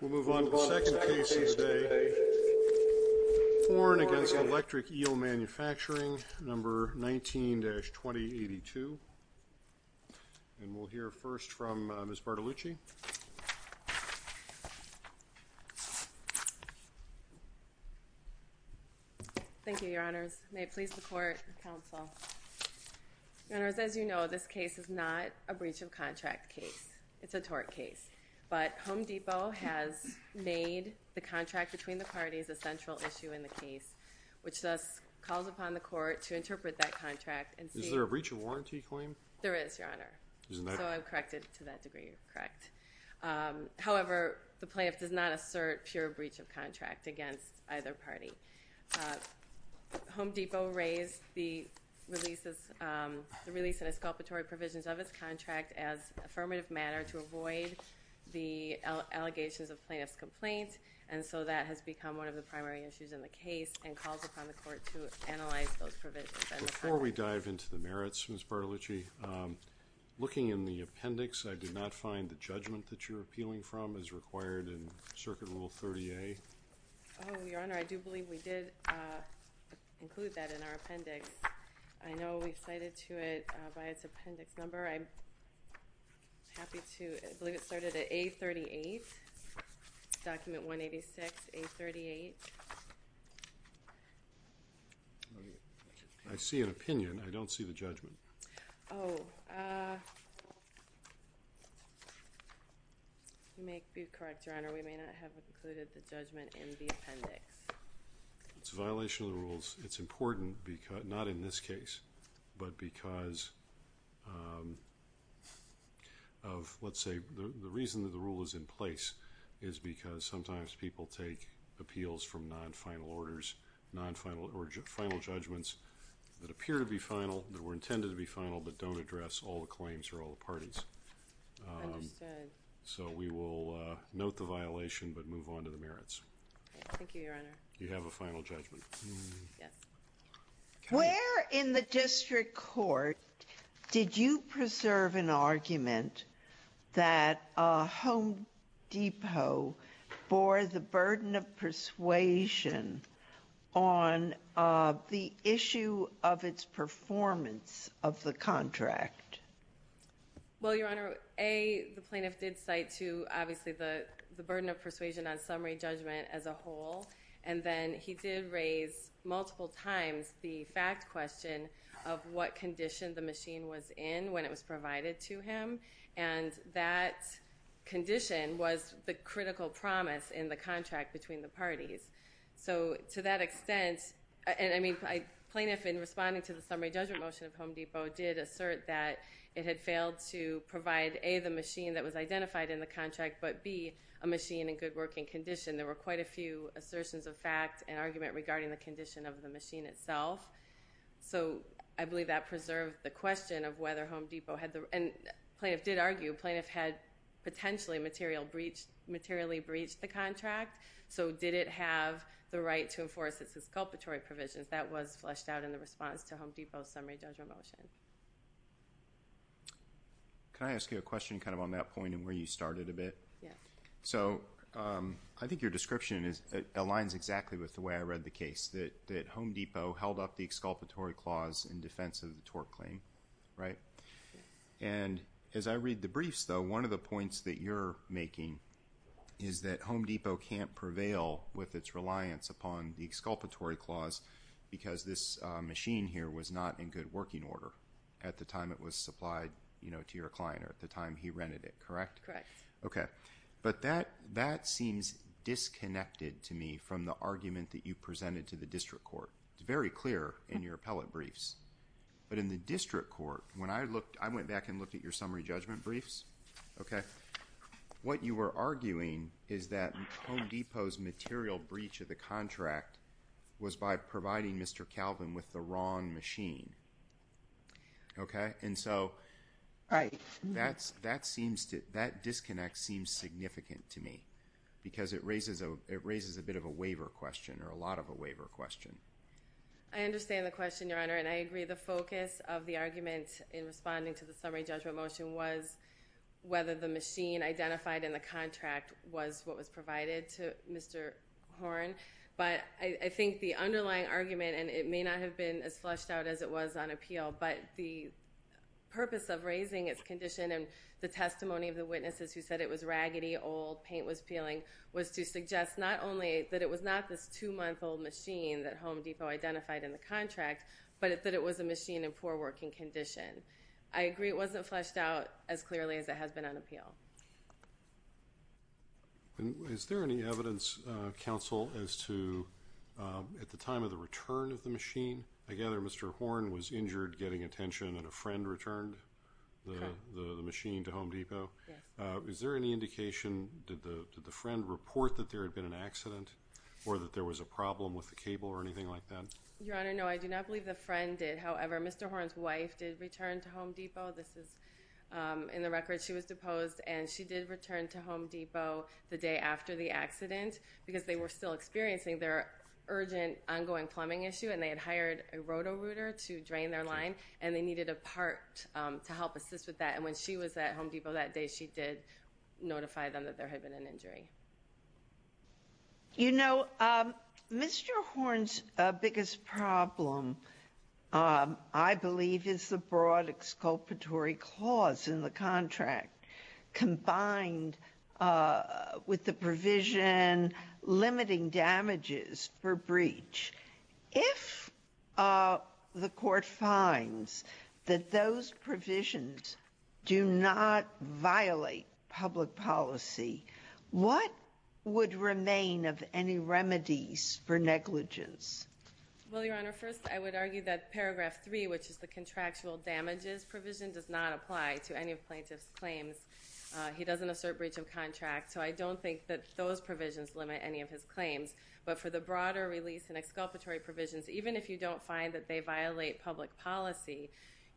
We'll move on to the second case today. Horne v. Electric Eel Manufacturing, number 19-2082. And we'll hear first from Ms. Bartolucci. Thank you, Your Honors. May it please the Court and Counsel. Your Honors, as you know, this case is not a breach of contract case. It's a tort case. But Home Depot raised the release and exculpatory provisions of its contract as affirmative manner to avoid the allegations of plaintiff's complaints, and so that has become one of the primary issues in the case and calls upon the Court to analyze those provisions. Before we dive into the merits, Ms. Bartolucci, looking in the appendix, I did not find the judgment that you're appealing from as required in Circuit Rule 30A. Oh, Your Honor, I do believe we did include that in our I believe it started at A38, document 186, A38. I see an opinion. I don't see the judgment. Oh, you may be correct, Your Honor. We may not have included the judgment in the appendix. It's a violation of the rules. It's important, not in this case, but because of, let's say, the reason that the rule is in place is because sometimes people take appeals from non-final orders, non-final or final judgments that appear to be final, that were intended to be final, but don't address all the claims or all the parties. So we will note the violation but move on to the merits. Thank you, Your Honor. You have a final judgment. Where in the district court did you preserve an argument that Home Depot bore the burden of persuasion on the issue of its performance of the contract? Well, he did bear the burden of persuasion on summary judgment as a whole and then he did raise multiple times the fact question of what condition the machine was in when it was provided to him and that condition was the critical promise in the contract between the parties. So to that extent, I mean, plaintiff in responding to the summary judgment motion of Home Depot did assert that it had failed to provide A, the machine that was identified in the contract, but B, a machine in good working condition. There were quite a few assertions of fact and argument regarding the condition of the machine itself. So I believe that preserved the question of whether Home Depot had the, and plaintiff did argue, plaintiff had potentially materially breached the contract. So did it have the right to enforce its exculpatory provisions? That was fleshed out in the question kind of on that point and where you started a bit. So I think your description aligns exactly with the way I read the case, that Home Depot held up the exculpatory clause in defense of the tort claim, right? And as I read the briefs though, one of the points that you're making is that Home Depot can't prevail with its reliance upon the exculpatory clause because this machine here was not in good working order at the time it was supplied, you know, to your client or at the time he rented it, correct? Correct. Okay, but that seems disconnected to me from the argument that you presented to the district court. It's very clear in your appellate briefs, but in the district court, when I looked, I went back and looked at your summary judgment briefs, okay, what you were arguing is that Home Depot's material breach of the contract was by providing Mr. Calvin with the wrong machine, okay? And so that disconnect seems significant to me because it raises a bit of a waiver question or a lot of a waiver question. I understand the question, Your Honor, and I agree the focus of the argument in responding to the summary judgment motion was whether the machine identified in the contract was what was provided to Mr. Horn, but I agree it wasn't fleshed out as clearly as it has been on appeal. And is there any evidence, counsel, as to at the time of the return of the machine, I gather Mr. Horn was injured getting attention and a friend returned the machine to Home Depot. Yes. Is there any indication, did the friend report that there had been an accident or that there was a problem with the cable or anything like that? Your Honor, no, I do not believe the friend did. However, Mr. Horn's wife did return to Home Depot. This is in the record. She was deposed and she did return to Home Depot the day after the accident because they were still experiencing their urgent ongoing plumbing issue and they had hired a roto-rooter to drain their line and they needed a part to help assist with that. And when she was at Home Depot that day, she did notify them that there had been an injury. You know, Mr. Horn's biggest problem, I believe, is the broad public-sculptory clause in the contract combined with the provision limiting damages for breach. If the court finds that those provisions do not violate public policy, what would remain of any remedies for negligence? Well, Your Honor, first I would argue that Paragraph 3, which is the contractual damages provision, does not apply to any plaintiff's claims. He doesn't assert breach of contract, so I don't think that those provisions limit any of his claims. But for the broader release and exculpatory provisions, even if you don't find that they violate public policy,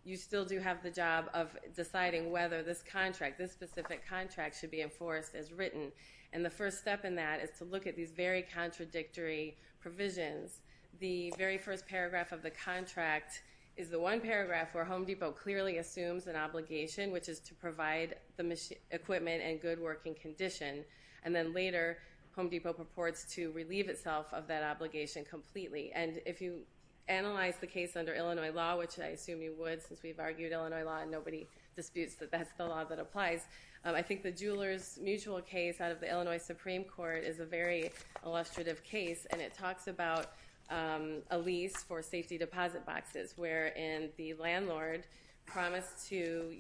you still do have the job of deciding whether this contract, this specific contract, should be enforced as written. And the first step in that is to look at these very contradictory provisions. The very first paragraph of the contract is the one paragraph where Home Depot clearly assumes an obligation, which is to provide the equipment in good working condition. And then later, Home Depot purports to relieve itself of that obligation completely. And if you analyze the case under Illinois law, which I assume you would since we've argued Illinois law and nobody disputes that that's the law that applies, I think the case is a very illustrative case, and it talks about a lease for safety deposit boxes wherein the landlord promised to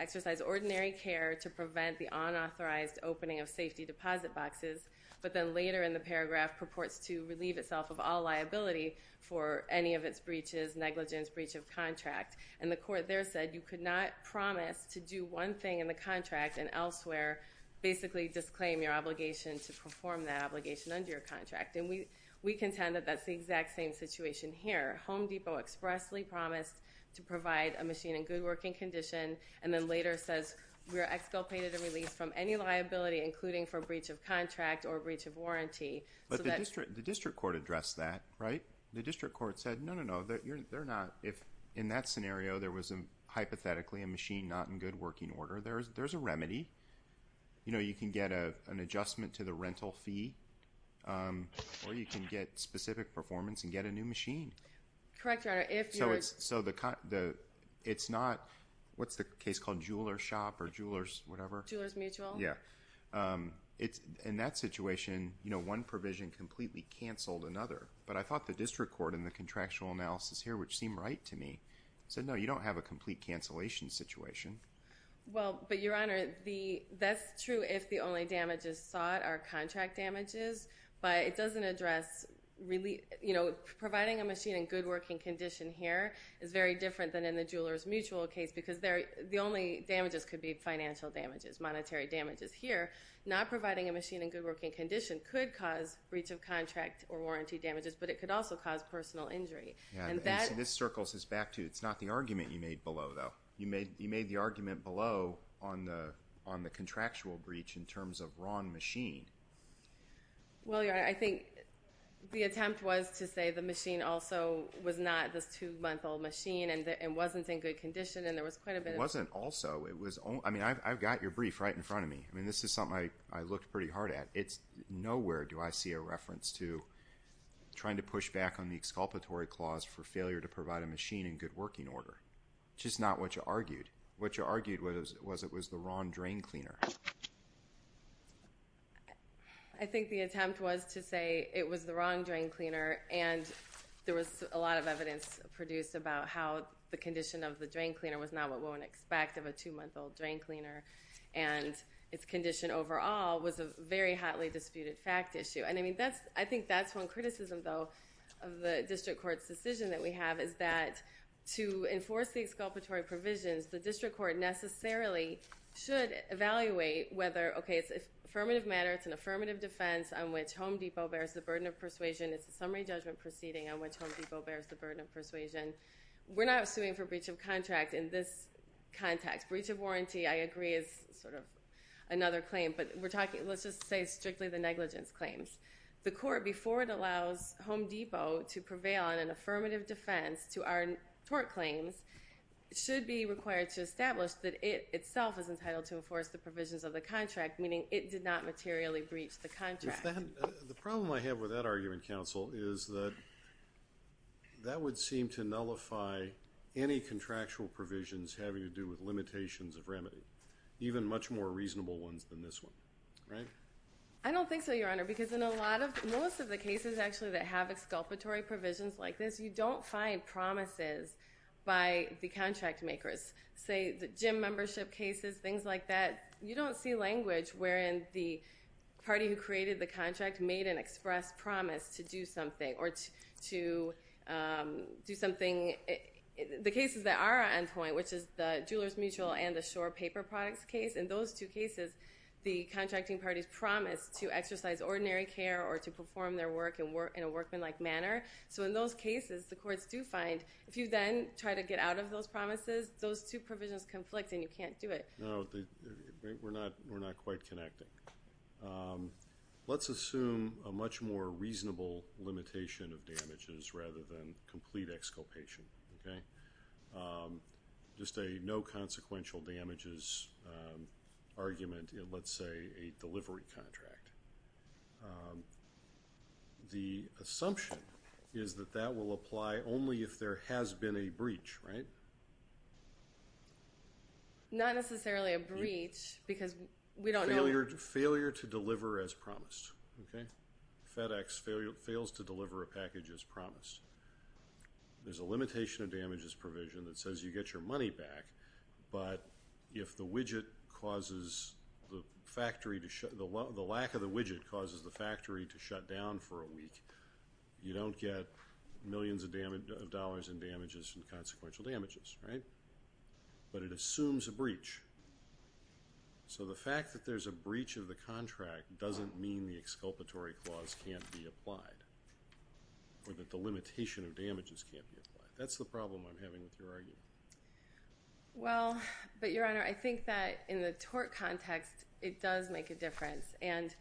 exercise ordinary care to prevent the unauthorized opening of safety deposit boxes, but then later in the paragraph purports to relieve itself of all liability for any of its breaches, negligence, breach of contract. And the court there said you could not promise to do one thing in the contract and elsewhere basically disclaim your obligation to perform that obligation under your contract. And we contend that that's the exact same situation here. Home Depot expressly promised to provide a machine in good working condition, and then later says we are exculpated and released from any liability, including for breach of contract or breach of warranty. But the district court addressed that, right? The district court said, no, no, no, they're not. If in that scenario there was hypothetically a machine not in good working order, there's a remedy. You can get an adjustment to the rental fee, or you can get specific performance and get a new machine. Correct, Your Honor. So it's not, what's the case called, jeweler shop or jeweler's whatever? Jeweler's mutual. Yeah. In that situation, one provision completely canceled another, but I thought the district court in the contractual analysis here, which seemed right to me, said, no, you don't have a complete cancellation situation. Well, but Your Honor, that's true if the only damages sought are contract damages, but it doesn't address, you know, providing a machine in good working condition here is very different than in the jeweler's mutual case, because the only damages could be financial damages, monetary damages. Here, not providing a machine in good working condition could cause breach of contract or warranty damages, but it could also cause personal injury. And this circles us back to, it's not the argument you made below, though. You made the argument below on the contractual breach in terms of wrong machine. Well, Your Honor, I think the attempt was to say the machine also was not this two-month-old machine and wasn't in good condition, and there was quite a bit of... It wasn't also. I mean, I've got your brief right in front of me. I mean, this is something I looked pretty hard at. Nowhere do I see a reference to trying to push back on the exculpatory clause for failure to provide a machine in good working order, which is not what you argued. What you argued was it was the wrong drain cleaner. I think the attempt was to say it was the wrong drain cleaner, and there was a lot of evidence produced about how the condition of the drain cleaner was not what one would expect of a two-month-old drain cleaner, and its condition overall was a very hotly disputed fact issue. And, I mean, that's, I think that's one criticism, though, of the district court's decision that we have, is that to enforce the exculpatory provisions, the district court necessarily should evaluate whether, okay, it's an affirmative matter, it's an affirmative defense on which Home Depot bears the burden of persuasion, it's a summary judgment proceeding on which Home Depot bears the burden of persuasion. We're not suing for breach of contract in this context. Breach of warranty, I agree, is sort of another claim, but we're talking, let's just say strictly the negligence claims. The court, before it allows Home Depot to prevail on an affirmative defense to our tort claims, should be required to establish that it itself is entitled to enforce the provisions of the contract, meaning it did not materially breach the contract. The problem I have with that argument, counsel, is that that would seem to nullify any contractual provisions having to do with limitations of remedy, even much more reasonable ones than this one, right? I don't think so, Your Honor, because in a lot of, most of the cases actually that have exculpatory provisions like this, you don't find promises by the contract makers. Say the gym membership cases, things like that, you don't see language wherein the party who created the contract made an express promise to do something, or to do something, the cases that are on point, which is the Jewelers Mutual and the Shore Paper Products case, in those two cases, the parties make a promise to exercise ordinary care or to perform their work in a workman-like manner. So in those cases, the courts do find, if you then try to get out of those promises, those two provisions conflict and you can't do it. No, we're not quite connecting. Let's assume a much more reasonable limitation of damages rather than complete exculpation, okay? Just a no consequential damages argument in, let's say, a delivery contract. The assumption is that that will apply only if there has been a breach, right? Not necessarily a breach because we don't know. Failure to deliver as promised, okay? There's a limitation of damages provision that says you get your money back, but if the widget causes the factory to shut, the lack of the widget causes the factory to shut down for a week, you don't get millions of dollars in damages and consequential damages, right? But it assumes a breach. So the fact that there's a breach of the contract doesn't mean the exculpatory clause can't be applied or that the limitation of damages can't be applied. That's the problem I'm having with your argument. Well, but, Your Honor, I think that in the tort context, it does make a difference. And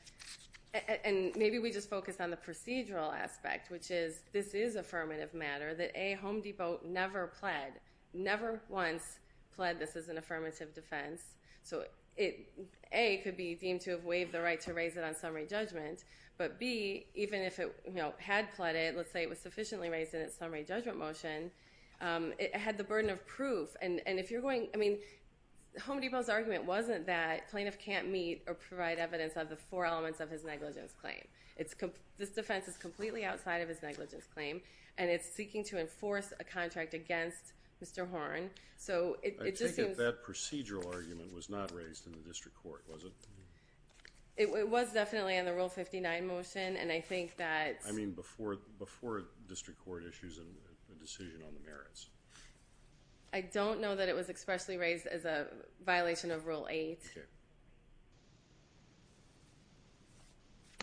maybe we just focus on the procedural aspect, which is this is affirmative matter that, A, Home Depot never pled, never once pled this as an affirmative defense. So A, it could be deemed to have waived the right to raise it on summary judgment. But, B, even if it had pled it, let's say it was sufficiently raised in its summary judgment motion, it had the burden of proof. And if you're going, I mean, Home Depot's argument wasn't that plaintiff can't meet or provide evidence of the four elements of his negligence claim. This defense is completely outside of his negligence claim, and it's seeking to enforce a contract against Mr. Horn. I take it that procedural argument was not raised in the district court, was it? It was definitely in the Rule 59 motion, and I think that's... I mean, before district court issues a decision on the merits. I don't know that it was expressly raised as a violation of Rule 8. Okay.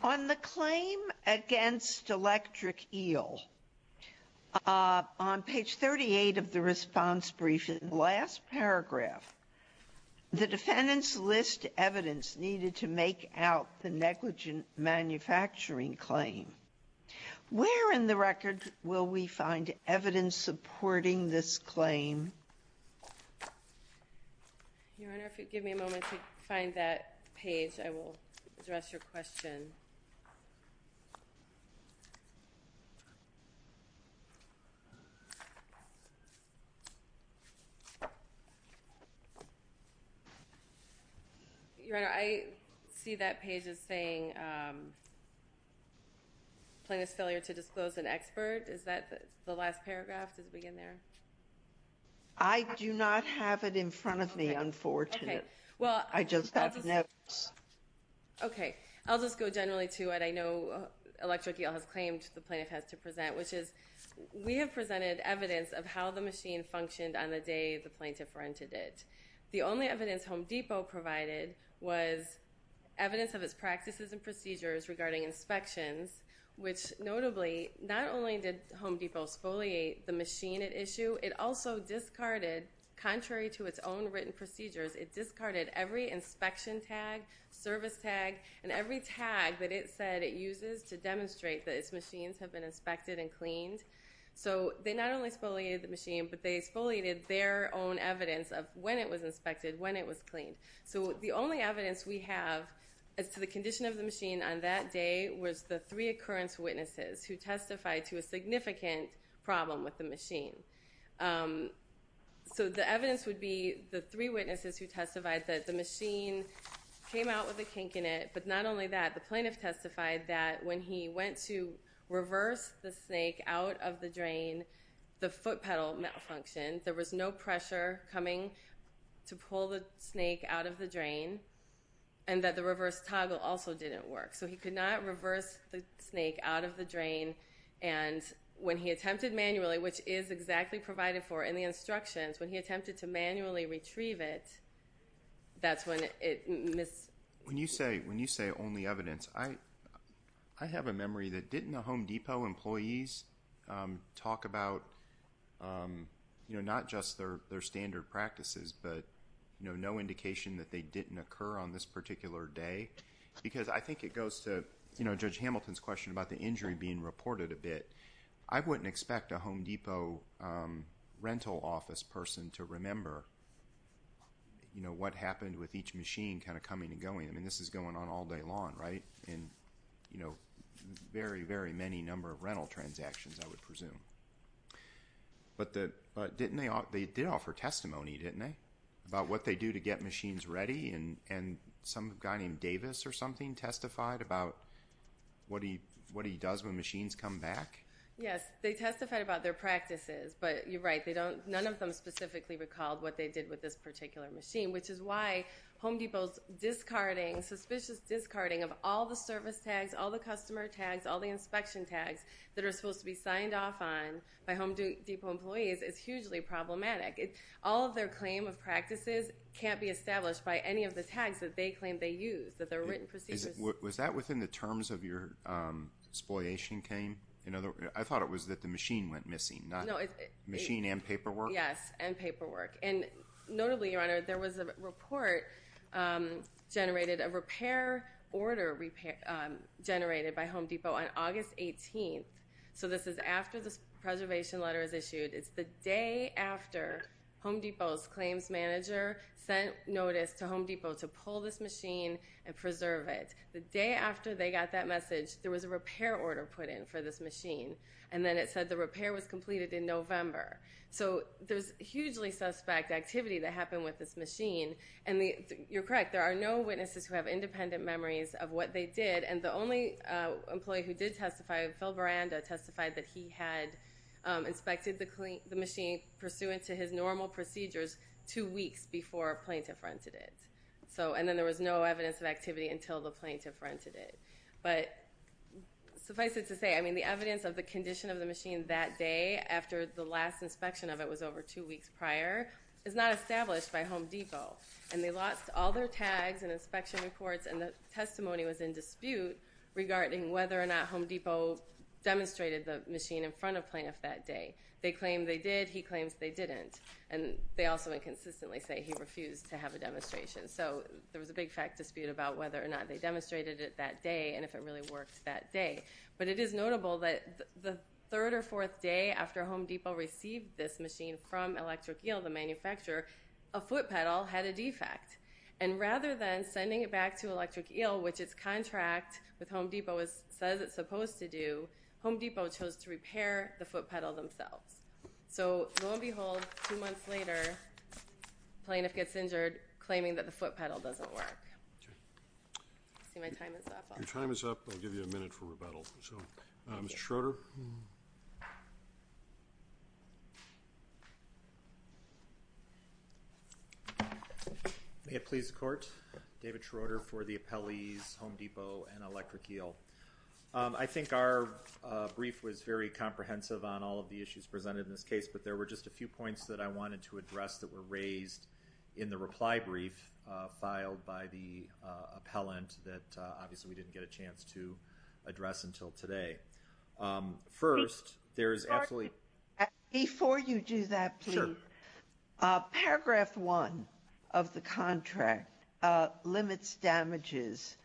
On the claim against Electric Eel, on page 38 of the response brief, in the last paragraph, the defendants list evidence needed to make out the negligent manufacturing claim. Where in the record will we find evidence supporting this claim? Your Honor, if you'd give me a moment to find that page, I will address your question. Your Honor, I see that page as saying plaintiff's failure to disclose an expert. Is that the last paragraph? Does it begin there? I do not have it in front of me, unfortunately. I just have notes. Okay. I'll just go generally to what I know Electric Eel has claimed the plaintiff has to present, which is we have presented evidence of how the machine functioned on the day the plaintiff rented it. The only evidence Home Depot provided was evidence of its practices and procedures regarding inspections, which notably, not only did Home Depot spoliate the machine at issue, it also discarded, contrary to its own written procedures, it discarded every inspection tag, service tag, and every tag that it said it uses to demonstrate that its machines have been inspected and cleaned. So they not only spoliated the machine, but they spoliated their own evidence of when it was inspected, when it was cleaned. So the only evidence we have as to the condition of the machine on that day was the three occurrence witnesses who testified to a significant problem with the machine. So the evidence would be the three witnesses who testified that the machine came out with a kink in it, but not only that, the plaintiff testified that when he went to reverse the snake out of the drain, the foot pedal malfunctioned. There was no pressure coming to pull the snake out of the drain, and that the reverse toggle also didn't work. So he could not reverse the snake out of the drain. And when he attempted manually, which is exactly provided for in the instructions, when he attempted to manually retrieve it, that's when it missed. When you say only evidence, I have a memory that didn't the Home Depot employees talk about not just their standard practices, but no indication that they didn't occur on this particular day? Because I think it goes to Judge Hamilton's question about the injury being reported a bit. I wouldn't expect a Home Depot rental office person to remember what happened with each machine kind of coming and going. I mean, this is going on all day long, right? And, you know, very, very many number of rental transactions, I would presume. But didn't they offer testimony, didn't they, about what they do to get machines ready? And some guy named Davis or something testified about what he does when machines come back? Yes, they testified about their practices. But you're right, none of them specifically recalled what they did with this particular machine, which is why Home Depot's discarding, suspicious discarding of all the service tags, all the customer tags, all the inspection tags that are supposed to be signed off on by Home Depot employees is hugely problematic. All of their claim of practices can't be established by any of the tags that they claim they used, that they're written procedures. Was that within the terms of your exploitation claim? I thought it was that the machine went missing, not machine and paperwork. Yes, and paperwork. And notably, Your Honor, there was a report generated, a repair order generated by Home Depot on August 18th. So this is after the preservation letter is issued. It's the day after Home Depot's claims manager sent notice to Home Depot to pull this machine and preserve it. The day after they got that message, there was a repair order put in for this machine. And then it said the repair was completed in November. So there's hugely suspect activity that happened with this machine. And you're correct. There are no witnesses who have independent memories of what they did. And the only employee who did testify, Phil Veranda, testified that he had inspected the machine pursuant to his normal procedures two weeks before plaintiff rented it. And then there was no evidence of activity until the plaintiff rented it. But suffice it to say, I mean, the evidence of the condition of the machine that day after the last inspection of it was over two weeks prior is not established by Home Depot. And they lost all their tags and inspection reports. And the testimony was in dispute regarding whether or not Home Depot demonstrated the machine in front of plaintiff that day. They claim they did. He claims they didn't. And they also inconsistently say he refused to have a demonstration. So there was a big fact dispute about whether or not they demonstrated it that day and if it really worked that day. But it is notable that the third or fourth day after Home Depot received this machine from Electric Eel, the manufacturer, a foot pedal had a defect. And rather than sending it back to Electric Eel, which its contract with Home Depot says it's supposed to do, Home Depot chose to repair the foot pedal themselves. So lo and behold, two months later, plaintiff gets injured claiming that the foot pedal doesn't work. I see my time is up. Your time is up. I'll give you a minute for rebuttal. So Mr. Schroeder. May it please the court, David Schroeder for the appellees, Home Depot and Electric Eel. I think our brief was very comprehensive on all of the issues presented in this case, but there were just a few points that I wanted to address that were raised in the reply brief filed by the appellant that obviously we didn't get a chance to address until today. First, there is absolutely. Before you do that plea, paragraph one of the contract limits damages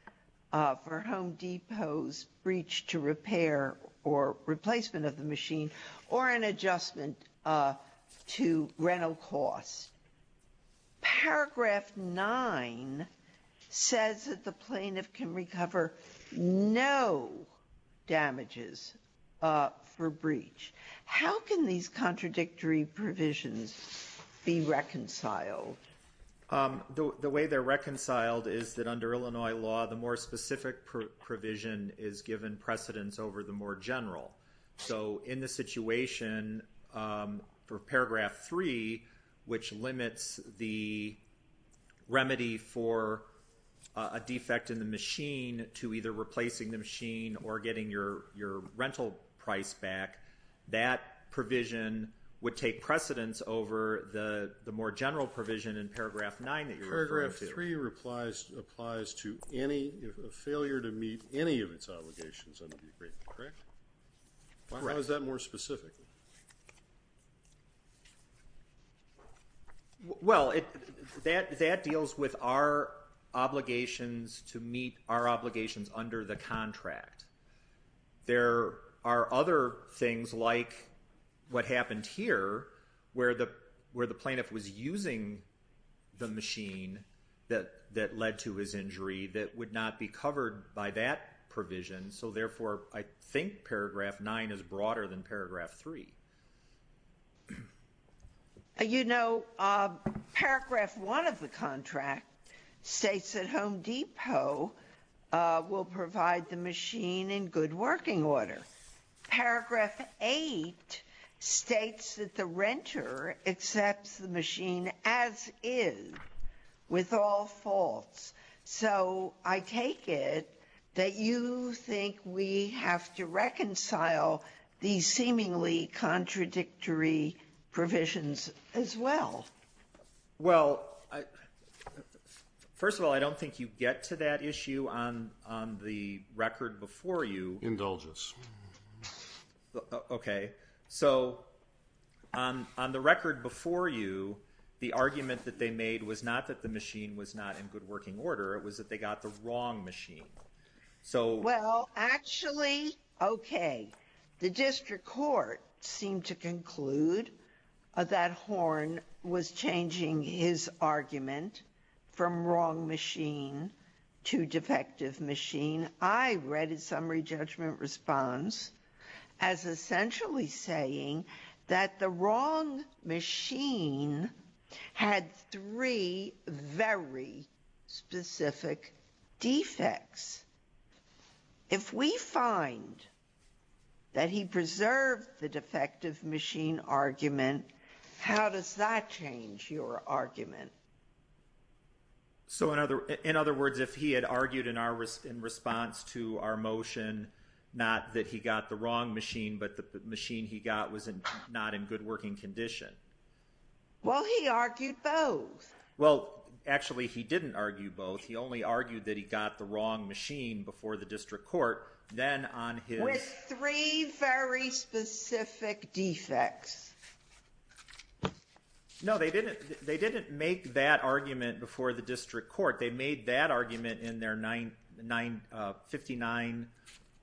for Home Depot's breach to paragraph nine says that the plaintiff can recover no damages for breach. How can these contradictory provisions be reconciled? The way they're reconciled is that under Illinois law, the more specific provision is given precedence over the more general. So in the situation for paragraph three, which limits the remedy for a defect in the machine to either replacing the machine or getting your rental price back, that provision would take precedence over the more general provision in paragraph nine that you're referring to. Paragraph three applies to any failure to meet any of its obligations under the agreement, correct? Correct. How is that more specific? Well, that deals with our obligations to meet our obligations under the contract. There are other things like what happened here where the plaintiff was using the machine that led to his injury that would not be covered by that provision. So therefore, I think paragraph nine is broader than paragraph three. You know, paragraph one of the contract states that Home Depot will provide the machine in good working order. Paragraph eight states that the renter accepts the machine as is, with all faults. So I take it that you think we have to reconcile these seemingly contradictory provisions as well. Well, first of all, I don't think you get to that issue on the record before you. Indulge us. Okay. So on the record before you, the argument that they made was not that the machine was not in good working order. It was that they got the wrong machine. Well, actually, okay. The district court seemed to conclude that Horn was changing his argument from wrong machine to defective machine. I read his summary judgment response as essentially saying that the wrong machine had three very specific defects. If we find that he preserved the defective machine argument, how does that change your argument? So in other words, if he had argued in response to our motion, not that he got the wrong machine, but the machine he got was not in good working condition. Well, he argued both. Well, actually, he didn't argue both. He only argued that he got the wrong machine before the district court. With three very specific defects. No, they didn't make that argument before the district court. They made that argument in their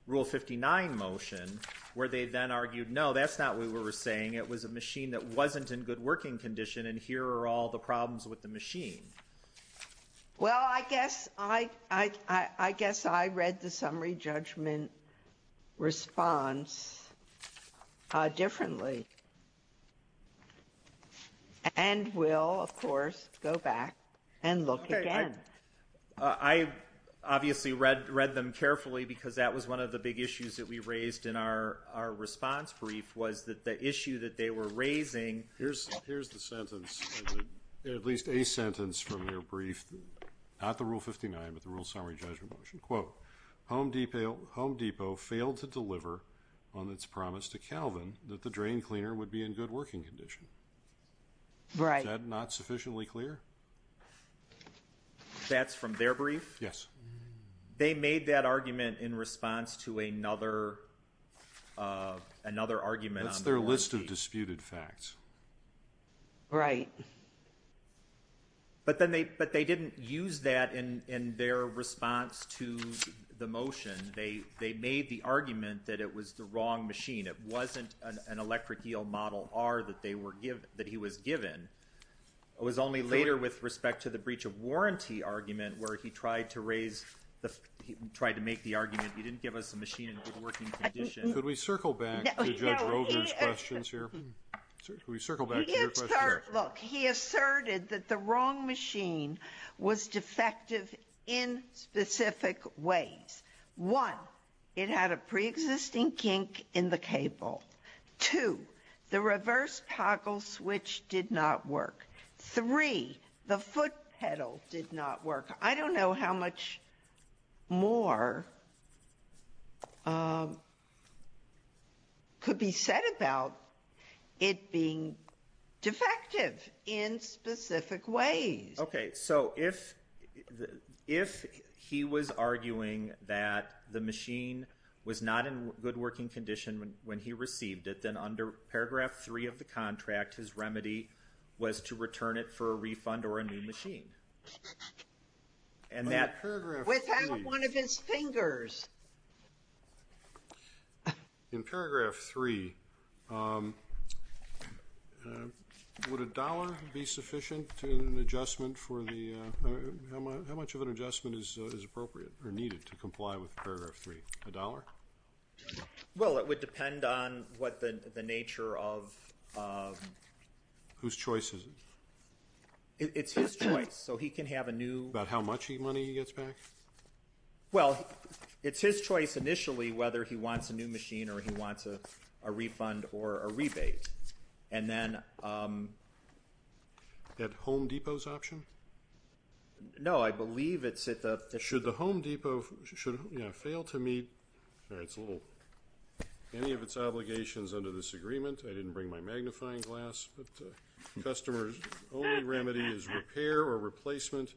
rule 59 motion, where they then argued, no, that's not what we were saying. It was a machine that wasn't in good working condition, and here are all the problems with the machine. Well, I guess I read the summary judgment response differently. And we'll, of course, go back and look again. I obviously read them carefully because that was one of the big issues that we raised in our response brief was that the issue that they were raising Here's the sentence, at least a sentence from their brief, not the rule 59, but the rule summary judgment motion. Quote, Home Depot failed to deliver on its promise to Calvin that the drain cleaner would be in good working condition. Is that not sufficiently clear? That's from their brief? Yes. They made that argument in response to another argument. What's their list of disputed facts? Right. But they didn't use that in their response to the motion. They made the argument that it was the wrong machine. It wasn't an electric eel model R that he was given. It was only later with respect to the breach of warranty argument where he tried to make the argument he didn't give us a machine in good working condition. Could we circle back to Judge Rovers' questions here? Could we circle back to your question here? Look, he asserted that the wrong machine was defective in specific ways. One, it had a preexisting kink in the cable. Two, the reverse toggle switch did not work. Three, the foot pedal did not work. I don't know how much more could be said about it being defective in specific ways. Okay, so if he was arguing that the machine was not in good working condition when he received it, then under Paragraph 3 of the contract his remedy was to return it for a refund or a new machine. Without one of his fingers. In Paragraph 3, would a dollar be sufficient to an adjustment for the, how much of an adjustment is appropriate or needed to comply with Paragraph 3? A dollar? Well, it would depend on what the nature of. Whose choice is it? It's his choice, so he can have a new. About how much money he gets back? Well, it's his choice initially whether he wants a new machine or he wants a refund or a rebate. And then. At Home Depot's option? No, I believe it's at the. Should the Home Depot fail to meet any of its obligations under this agreement? I didn't bring my magnifying glass. Customer's only remedy is repair or replacement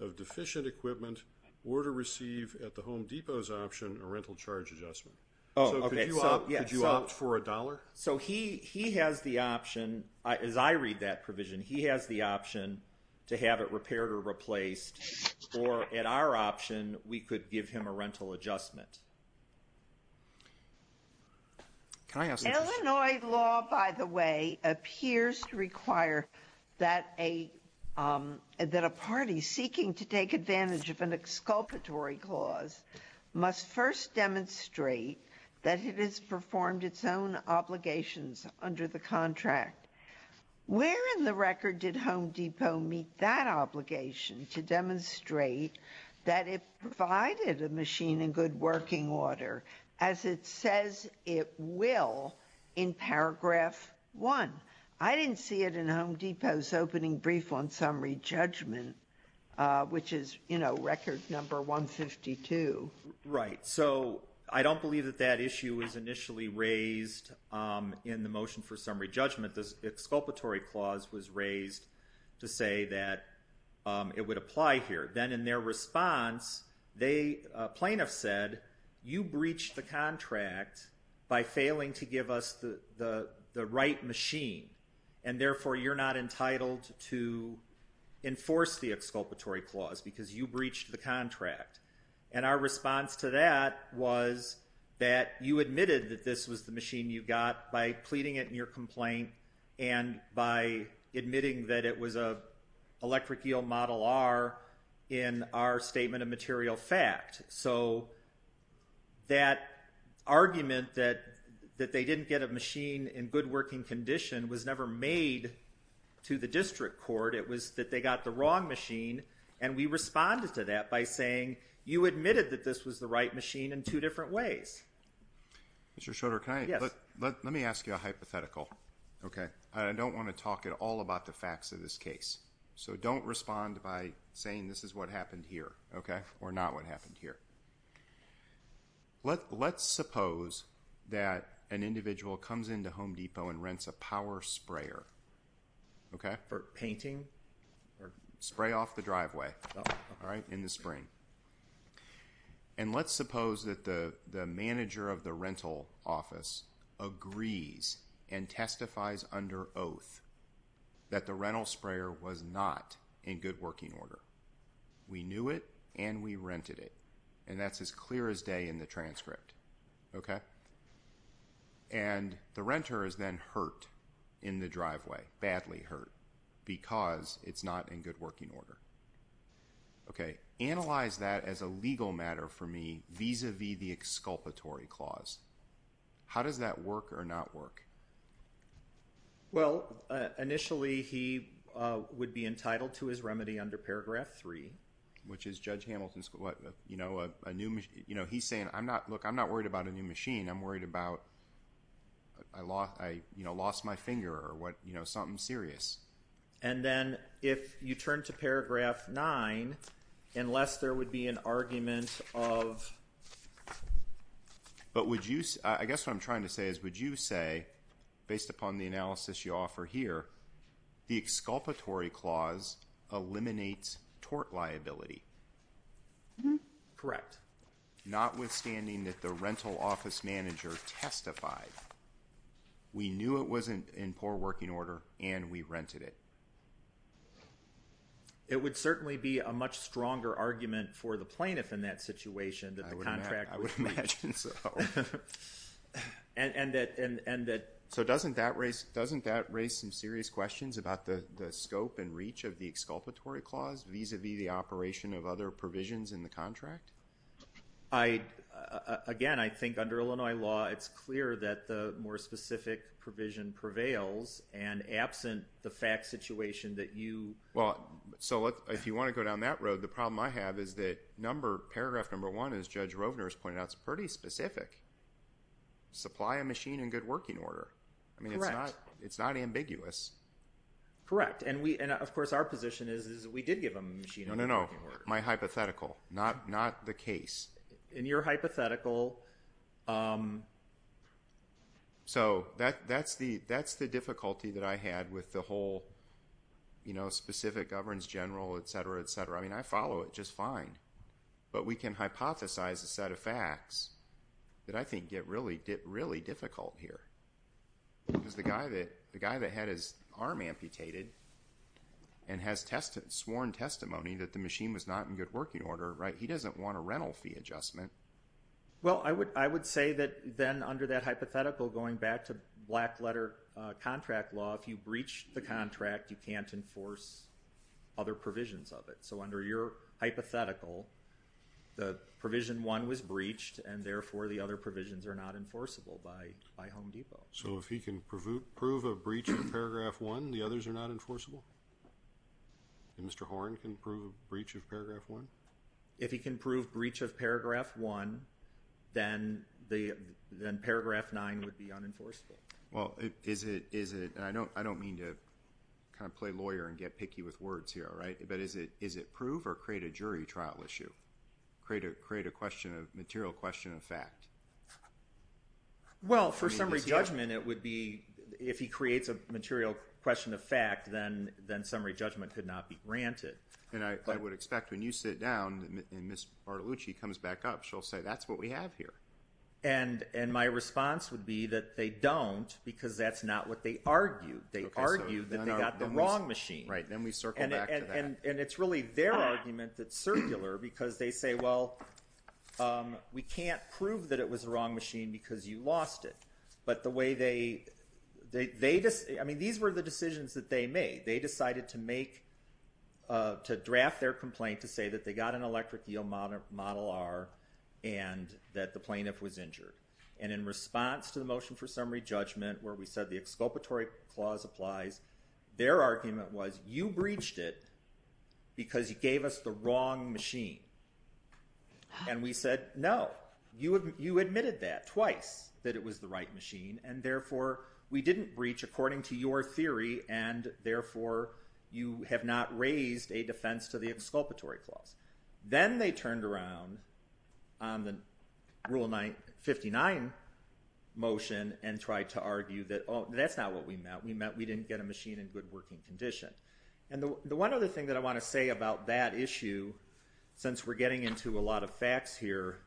of deficient equipment or to receive at the Home Depot's option a rental charge adjustment. So could you opt for a dollar? So he has the option, as I read that provision, he has the option to have it repaired or replaced. Or at our option, we could give him a rental adjustment. Illinois law, by the way, appears to require that a party seeking to take advantage of an exculpatory clause must first demonstrate that it has performed its own obligations under the contract. Where in the record did Home Depot meet that obligation to demonstrate that it provided a machine in good working order as it says it will in paragraph one? I didn't see it in Home Depot's opening brief on summary judgment, which is, you know, record number 152. Right. So I don't believe that that issue was initially raised in the motion for summary judgment. The exculpatory clause was raised to say that it would apply here. Then in their response, plaintiffs said, you breached the contract by failing to give us the right machine and therefore you're not entitled to enforce the exculpatory clause because you breached the contract. And our response to that was that you admitted that this was the machine you got by pleading it in your complaint and by admitting that it was an electric eel model R in our statement of material fact. So that argument that they didn't get a machine in good working condition was never made to the district court. It was that they got the wrong machine, and we responded to that by saying, you admitted that this was the right machine in two different ways. Mr. Schroeder, let me ask you a hypothetical. I don't want to talk at all about the facts of this case. So don't respond by saying this is what happened here or not what happened here. Let's suppose that an individual comes into Home Depot and rents a power sprayer. For painting? Spray off the driveway in the spring. And let's suppose that the manager of the rental office agrees and testifies under oath that the rental sprayer was not in good working order. We knew it and we rented it, and that's as clear as day in the transcript. And the renter is then hurt in the driveway, badly hurt, because it's not in good working order. Okay. Analyze that as a legal matter for me vis-à-vis the exculpatory clause. How does that work or not work? Well, initially he would be entitled to his remedy under paragraph three. Which is Judge Hamilton's, you know, a new machine. You know, he's saying, look, I'm not worried about a new machine. I'm worried about I lost my finger or something serious. And then if you turn to paragraph nine, unless there would be an argument of... But would you, I guess what I'm trying to say is, would you say, based upon the analysis you offer here, the exculpatory clause eliminates tort liability? Correct. Notwithstanding that the rental office manager testified. We knew it was in poor working order and we rented it. It would certainly be a much stronger argument for the plaintiff in that situation than the contract would be. I would imagine so. And that... So doesn't that raise some serious questions about the scope and reach of the exculpatory clause vis-à-vis the operation of other provisions in the contract? Again, I think under Illinois law it's clear that the more specific provision prevails. And absent the fact situation that you... Well, so if you want to go down that road, the problem I have is that number, paragraph number one, as Judge Rovner has pointed out, is pretty specific. Supply a machine in good working order. Correct. I mean, it's not ambiguous. Correct. And of course our position is that we did give him a machine in good working order. No, no, no. That's my hypothetical, not the case. In your hypothetical... So that's the difficulty that I had with the whole specific governance general, et cetera, et cetera. I mean, I follow it just fine. But we can hypothesize a set of facts that I think get really difficult here. Because the guy that had his arm amputated and has sworn testimony that the machine was not in good working order, he doesn't want a rental fee adjustment. Well, I would say that then under that hypothetical, going back to black-letter contract law, if you breach the contract, you can't enforce other provisions of it. So under your hypothetical, the Provision 1 was breached, and therefore the other provisions are not enforceable by Home Depot. So if he can prove a breach of Paragraph 1, the others are not enforceable? Mr. Horne can prove a breach of Paragraph 1? If he can prove breach of Paragraph 1, then Paragraph 9 would be unenforceable. Well, is it? And I don't mean to kind of play lawyer and get picky with words here, all right? But is it prove or create a jury trial issue, create a material question of fact? Well, for summary judgment, it would be if he creates a material question of fact, then summary judgment could not be granted. And I would expect when you sit down and Ms. Bartolucci comes back up, she'll say, that's what we have here. And my response would be that they don't because that's not what they argued. They argued that they got the wrong machine. Right. Then we circle back to that. And it's really their argument that's circular because they say, well, we can't prove that it was the wrong machine because you lost it. But the way they – I mean, these were the decisions that they made. They decided to make – to draft their complaint to say that they got an electric yield model R and that the plaintiff was injured. And in response to the motion for summary judgment where we said the exculpatory clause applies, their argument was you breached it because you gave us the wrong machine. And we said, no, you admitted that twice, that it was the right machine, and therefore we didn't breach according to your theory and therefore you have not raised a defense to the exculpatory clause. Then they turned around on the Rule 59 motion and tried to argue that that's not what we meant. We meant we didn't get a machine in good working condition. And the one other thing that I want to say about that issue, since we're getting into a lot of facts here,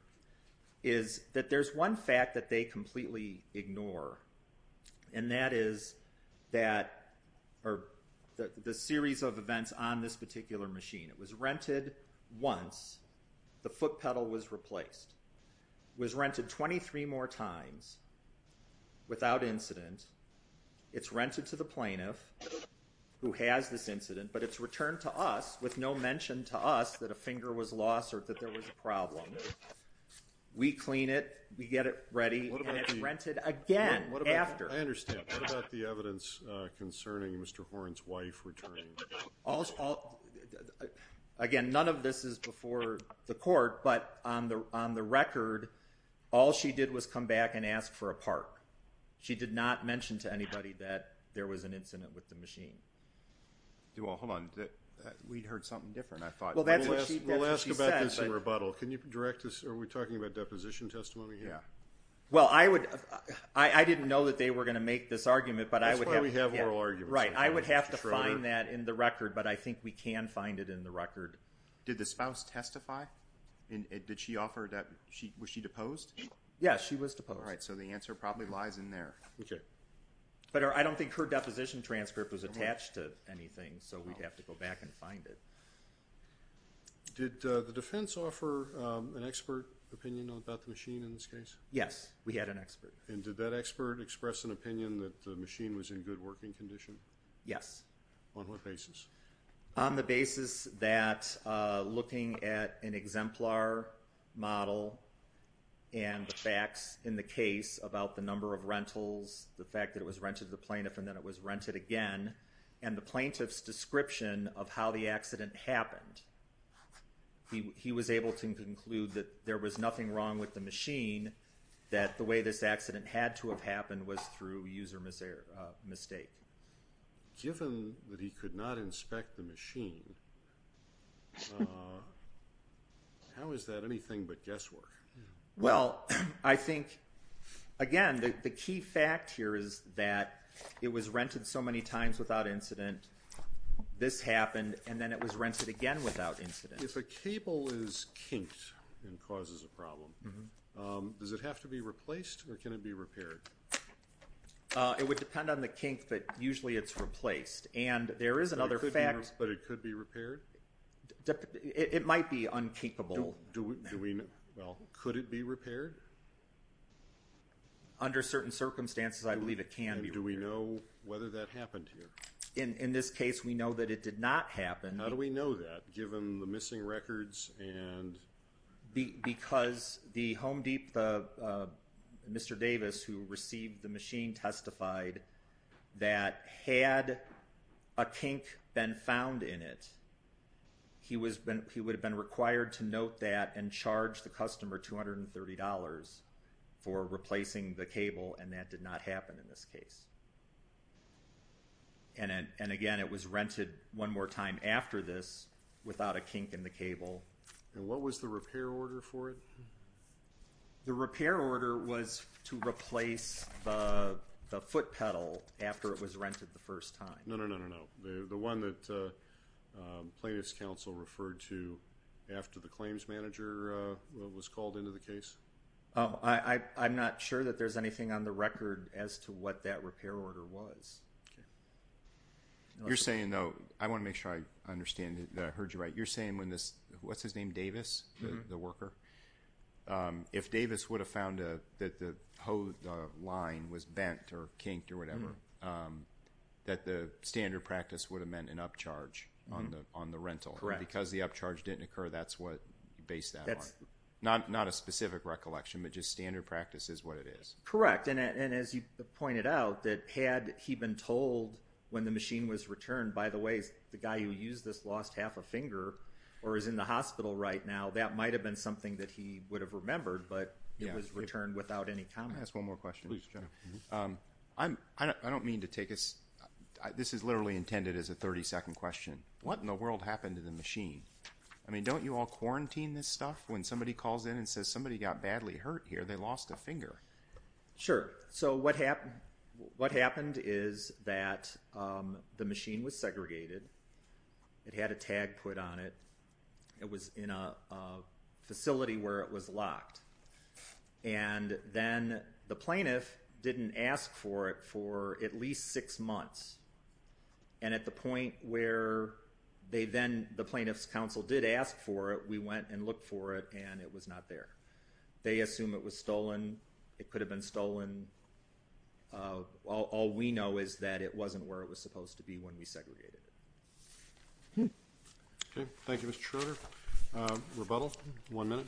is that there's one fact that they completely ignore, and that is that – or the series of events on this particular machine. It was rented once. The foot pedal was replaced. It was rented 23 more times without incident. It's rented to the plaintiff who has this incident, but it's returned to us with no mention to us that a finger was lost or that there was a problem. We clean it, we get it ready, and it's rented again after. I understand. What about the evidence concerning Mr. Horne's wife returning? Again, none of this is before the court, but on the record, all she did was come back and ask for a part. She did not mention to anybody that there was an incident with the machine. Hold on. We heard something different, I thought. We'll ask about this in rebuttal. Are we talking about deposition testimony here? Well, I didn't know that they were going to make this argument. That's why we have oral arguments. Right. I would have to find that in the record, but I think we can find it in the record. Did the spouse testify? Was she deposed? Yes, she was deposed. All right, so the answer probably lies in there. Okay. But I don't think her deposition transcript was attached to anything, so we'd have to go back and find it. Did the defense offer an expert opinion about the machine in this case? Yes, we had an expert. And did that expert express an opinion that the machine was in good working condition? Yes. On what basis? On the basis that looking at an exemplar model and the facts in the case about the number of rentals, the fact that it was rented to the plaintiff and then it was rented again, and the plaintiff's description of how the accident happened, he was able to conclude that there was nothing wrong with the machine, that the way this accident had to have happened was through user mistake. Given that he could not inspect the machine, how is that anything but guesswork? Well, I think, again, the key fact here is that it was rented so many times without incident, this happened, and then it was rented again without incident. If a cable is kinked and causes a problem, does it have to be replaced or can it be repaired? It would depend on the kink, but usually it's replaced. And there is another fact. But it could be repaired? It might be unkinkable. Do we know? Well, could it be repaired? Under certain circumstances, I believe it can be repaired. And do we know whether that happened here? In this case, we know that it did not happen. How do we know that, given the missing records and? Because the Home Deep, Mr. Davis, who received the machine, testified that had a kink been found in it, he would have been required to note that and charge the customer $230 for replacing the cable, and that did not happen in this case. And, again, it was rented one more time after this without a kink in the cable. And what was the repair order for it? The repair order was to replace the foot pedal after it was rented the first time. No, no, no, no, no. The one that plaintiff's counsel referred to after the claims manager was called into the case? I'm not sure that there's anything on the record as to what that repair order was. Okay. You're saying, though, I want to make sure I understand that I heard you right. You're saying when this, what's his name, Davis, the worker? If Davis would have found that the line was bent or kinked or whatever, that the standard practice would have meant an upcharge on the rental. Correct. Because the upcharge didn't occur, that's what you base that on. Not a specific recollection, but just standard practice is what it is. Correct. And as you pointed out, that had he been told when the machine was returned, by the way, the guy who used this lost half a finger or is in the hospital right now, that might have been something that he would have remembered, but it was returned without any comment. Can I ask one more question? Please, General. I don't mean to take a, this is literally intended as a 30-second question. What in the world happened to the machine? I mean, don't you all quarantine this stuff? When somebody calls in and says somebody got badly hurt here, they lost a finger. Sure. So what happened is that the machine was segregated. It had a tag put on it. It was in a facility where it was locked. And then the plaintiff didn't ask for it for at least six months. And at the point where they then, the plaintiff's counsel did ask for it, we went and looked for it, and it was not there. They assume it was stolen. It could have been stolen. All we know is that it wasn't where it was supposed to be when we segregated it. Okay. Thank you, Mr. Schroeder. Rebuttal. One minute.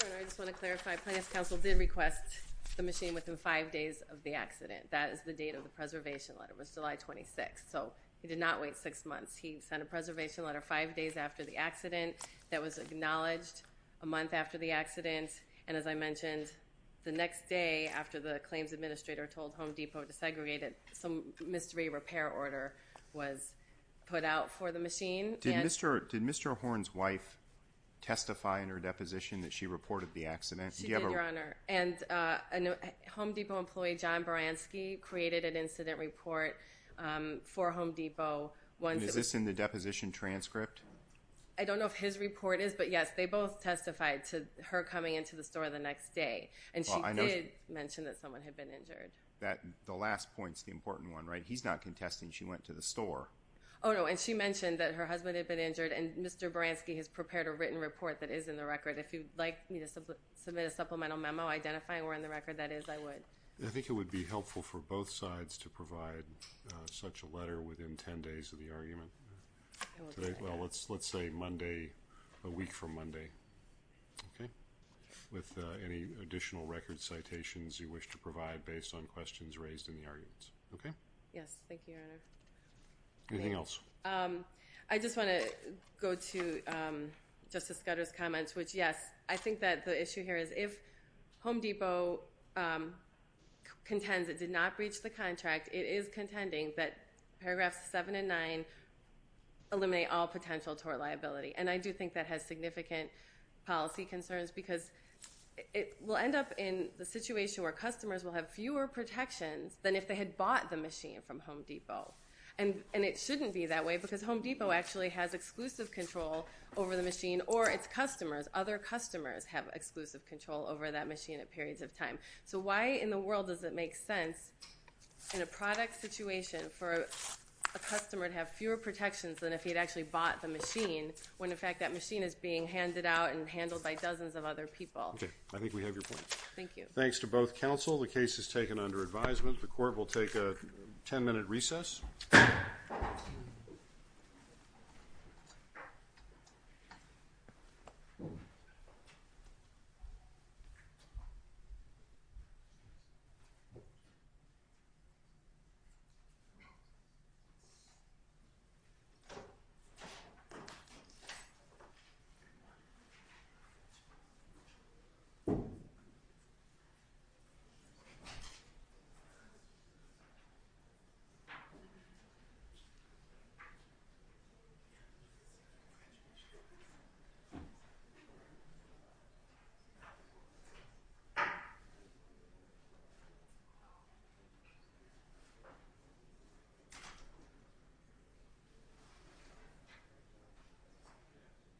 General, I just want to clarify, plaintiff's counsel did request the machine within five days of the accident. That is the date of the preservation letter. It was July 26th. So he did not wait six months. He sent a preservation letter five days after the accident that was acknowledged a month after the accident. And as I mentioned, the next day after the claims administrator told Home Depot to segregate it, some mystery repair order was put out for the machine. Did Mr. Horn's wife testify in her deposition that she reported the accident? She did, Your Honor. And a Home Depot employee, John Baranski, created an incident report for Home Depot. And is this in the deposition transcript? I don't know if his report is, but, yes, they both testified to her coming into the store the next day. And she did mention that someone had been injured. The last point is the important one, right? He's not contesting she went to the store. Oh, no. And she mentioned that her husband had been injured, and Mr. Baranski has prepared a written report that is in the record. If you'd like me to submit a supplemental memo identifying where in the record that is, I would. I think it would be helpful for both sides to provide such a letter within 10 days of the argument. Okay. Well, let's say Monday, a week from Monday. Okay? With any additional record citations you wish to provide based on questions raised in the arguments. Okay? Yes. Thank you, Your Honor. Anything else? I just want to go to Justice Gutter's comments, which, yes, I think that the issue here is if Home Depot contends it did not breach the contract, it is contending that Paragraphs 7 and 9 eliminate all potential tort liability. And I do think that has significant policy concerns, because it will end up in the situation where customers will have fewer protections than if they had bought the machine from Home Depot. And it shouldn't be that way, because Home Depot actually has exclusive control over the machine or its customers, other customers, have exclusive control over that machine at periods of time. So why in the world does it make sense in a product situation for a customer to have fewer protections than if he had actually bought the machine when, in fact, that machine is being handed out and handled by dozens of other people? Okay. I think we have your point. Thank you. Thanks to both counsel. The case is taken under advisement. The court will take a ten-minute recess. Thank you.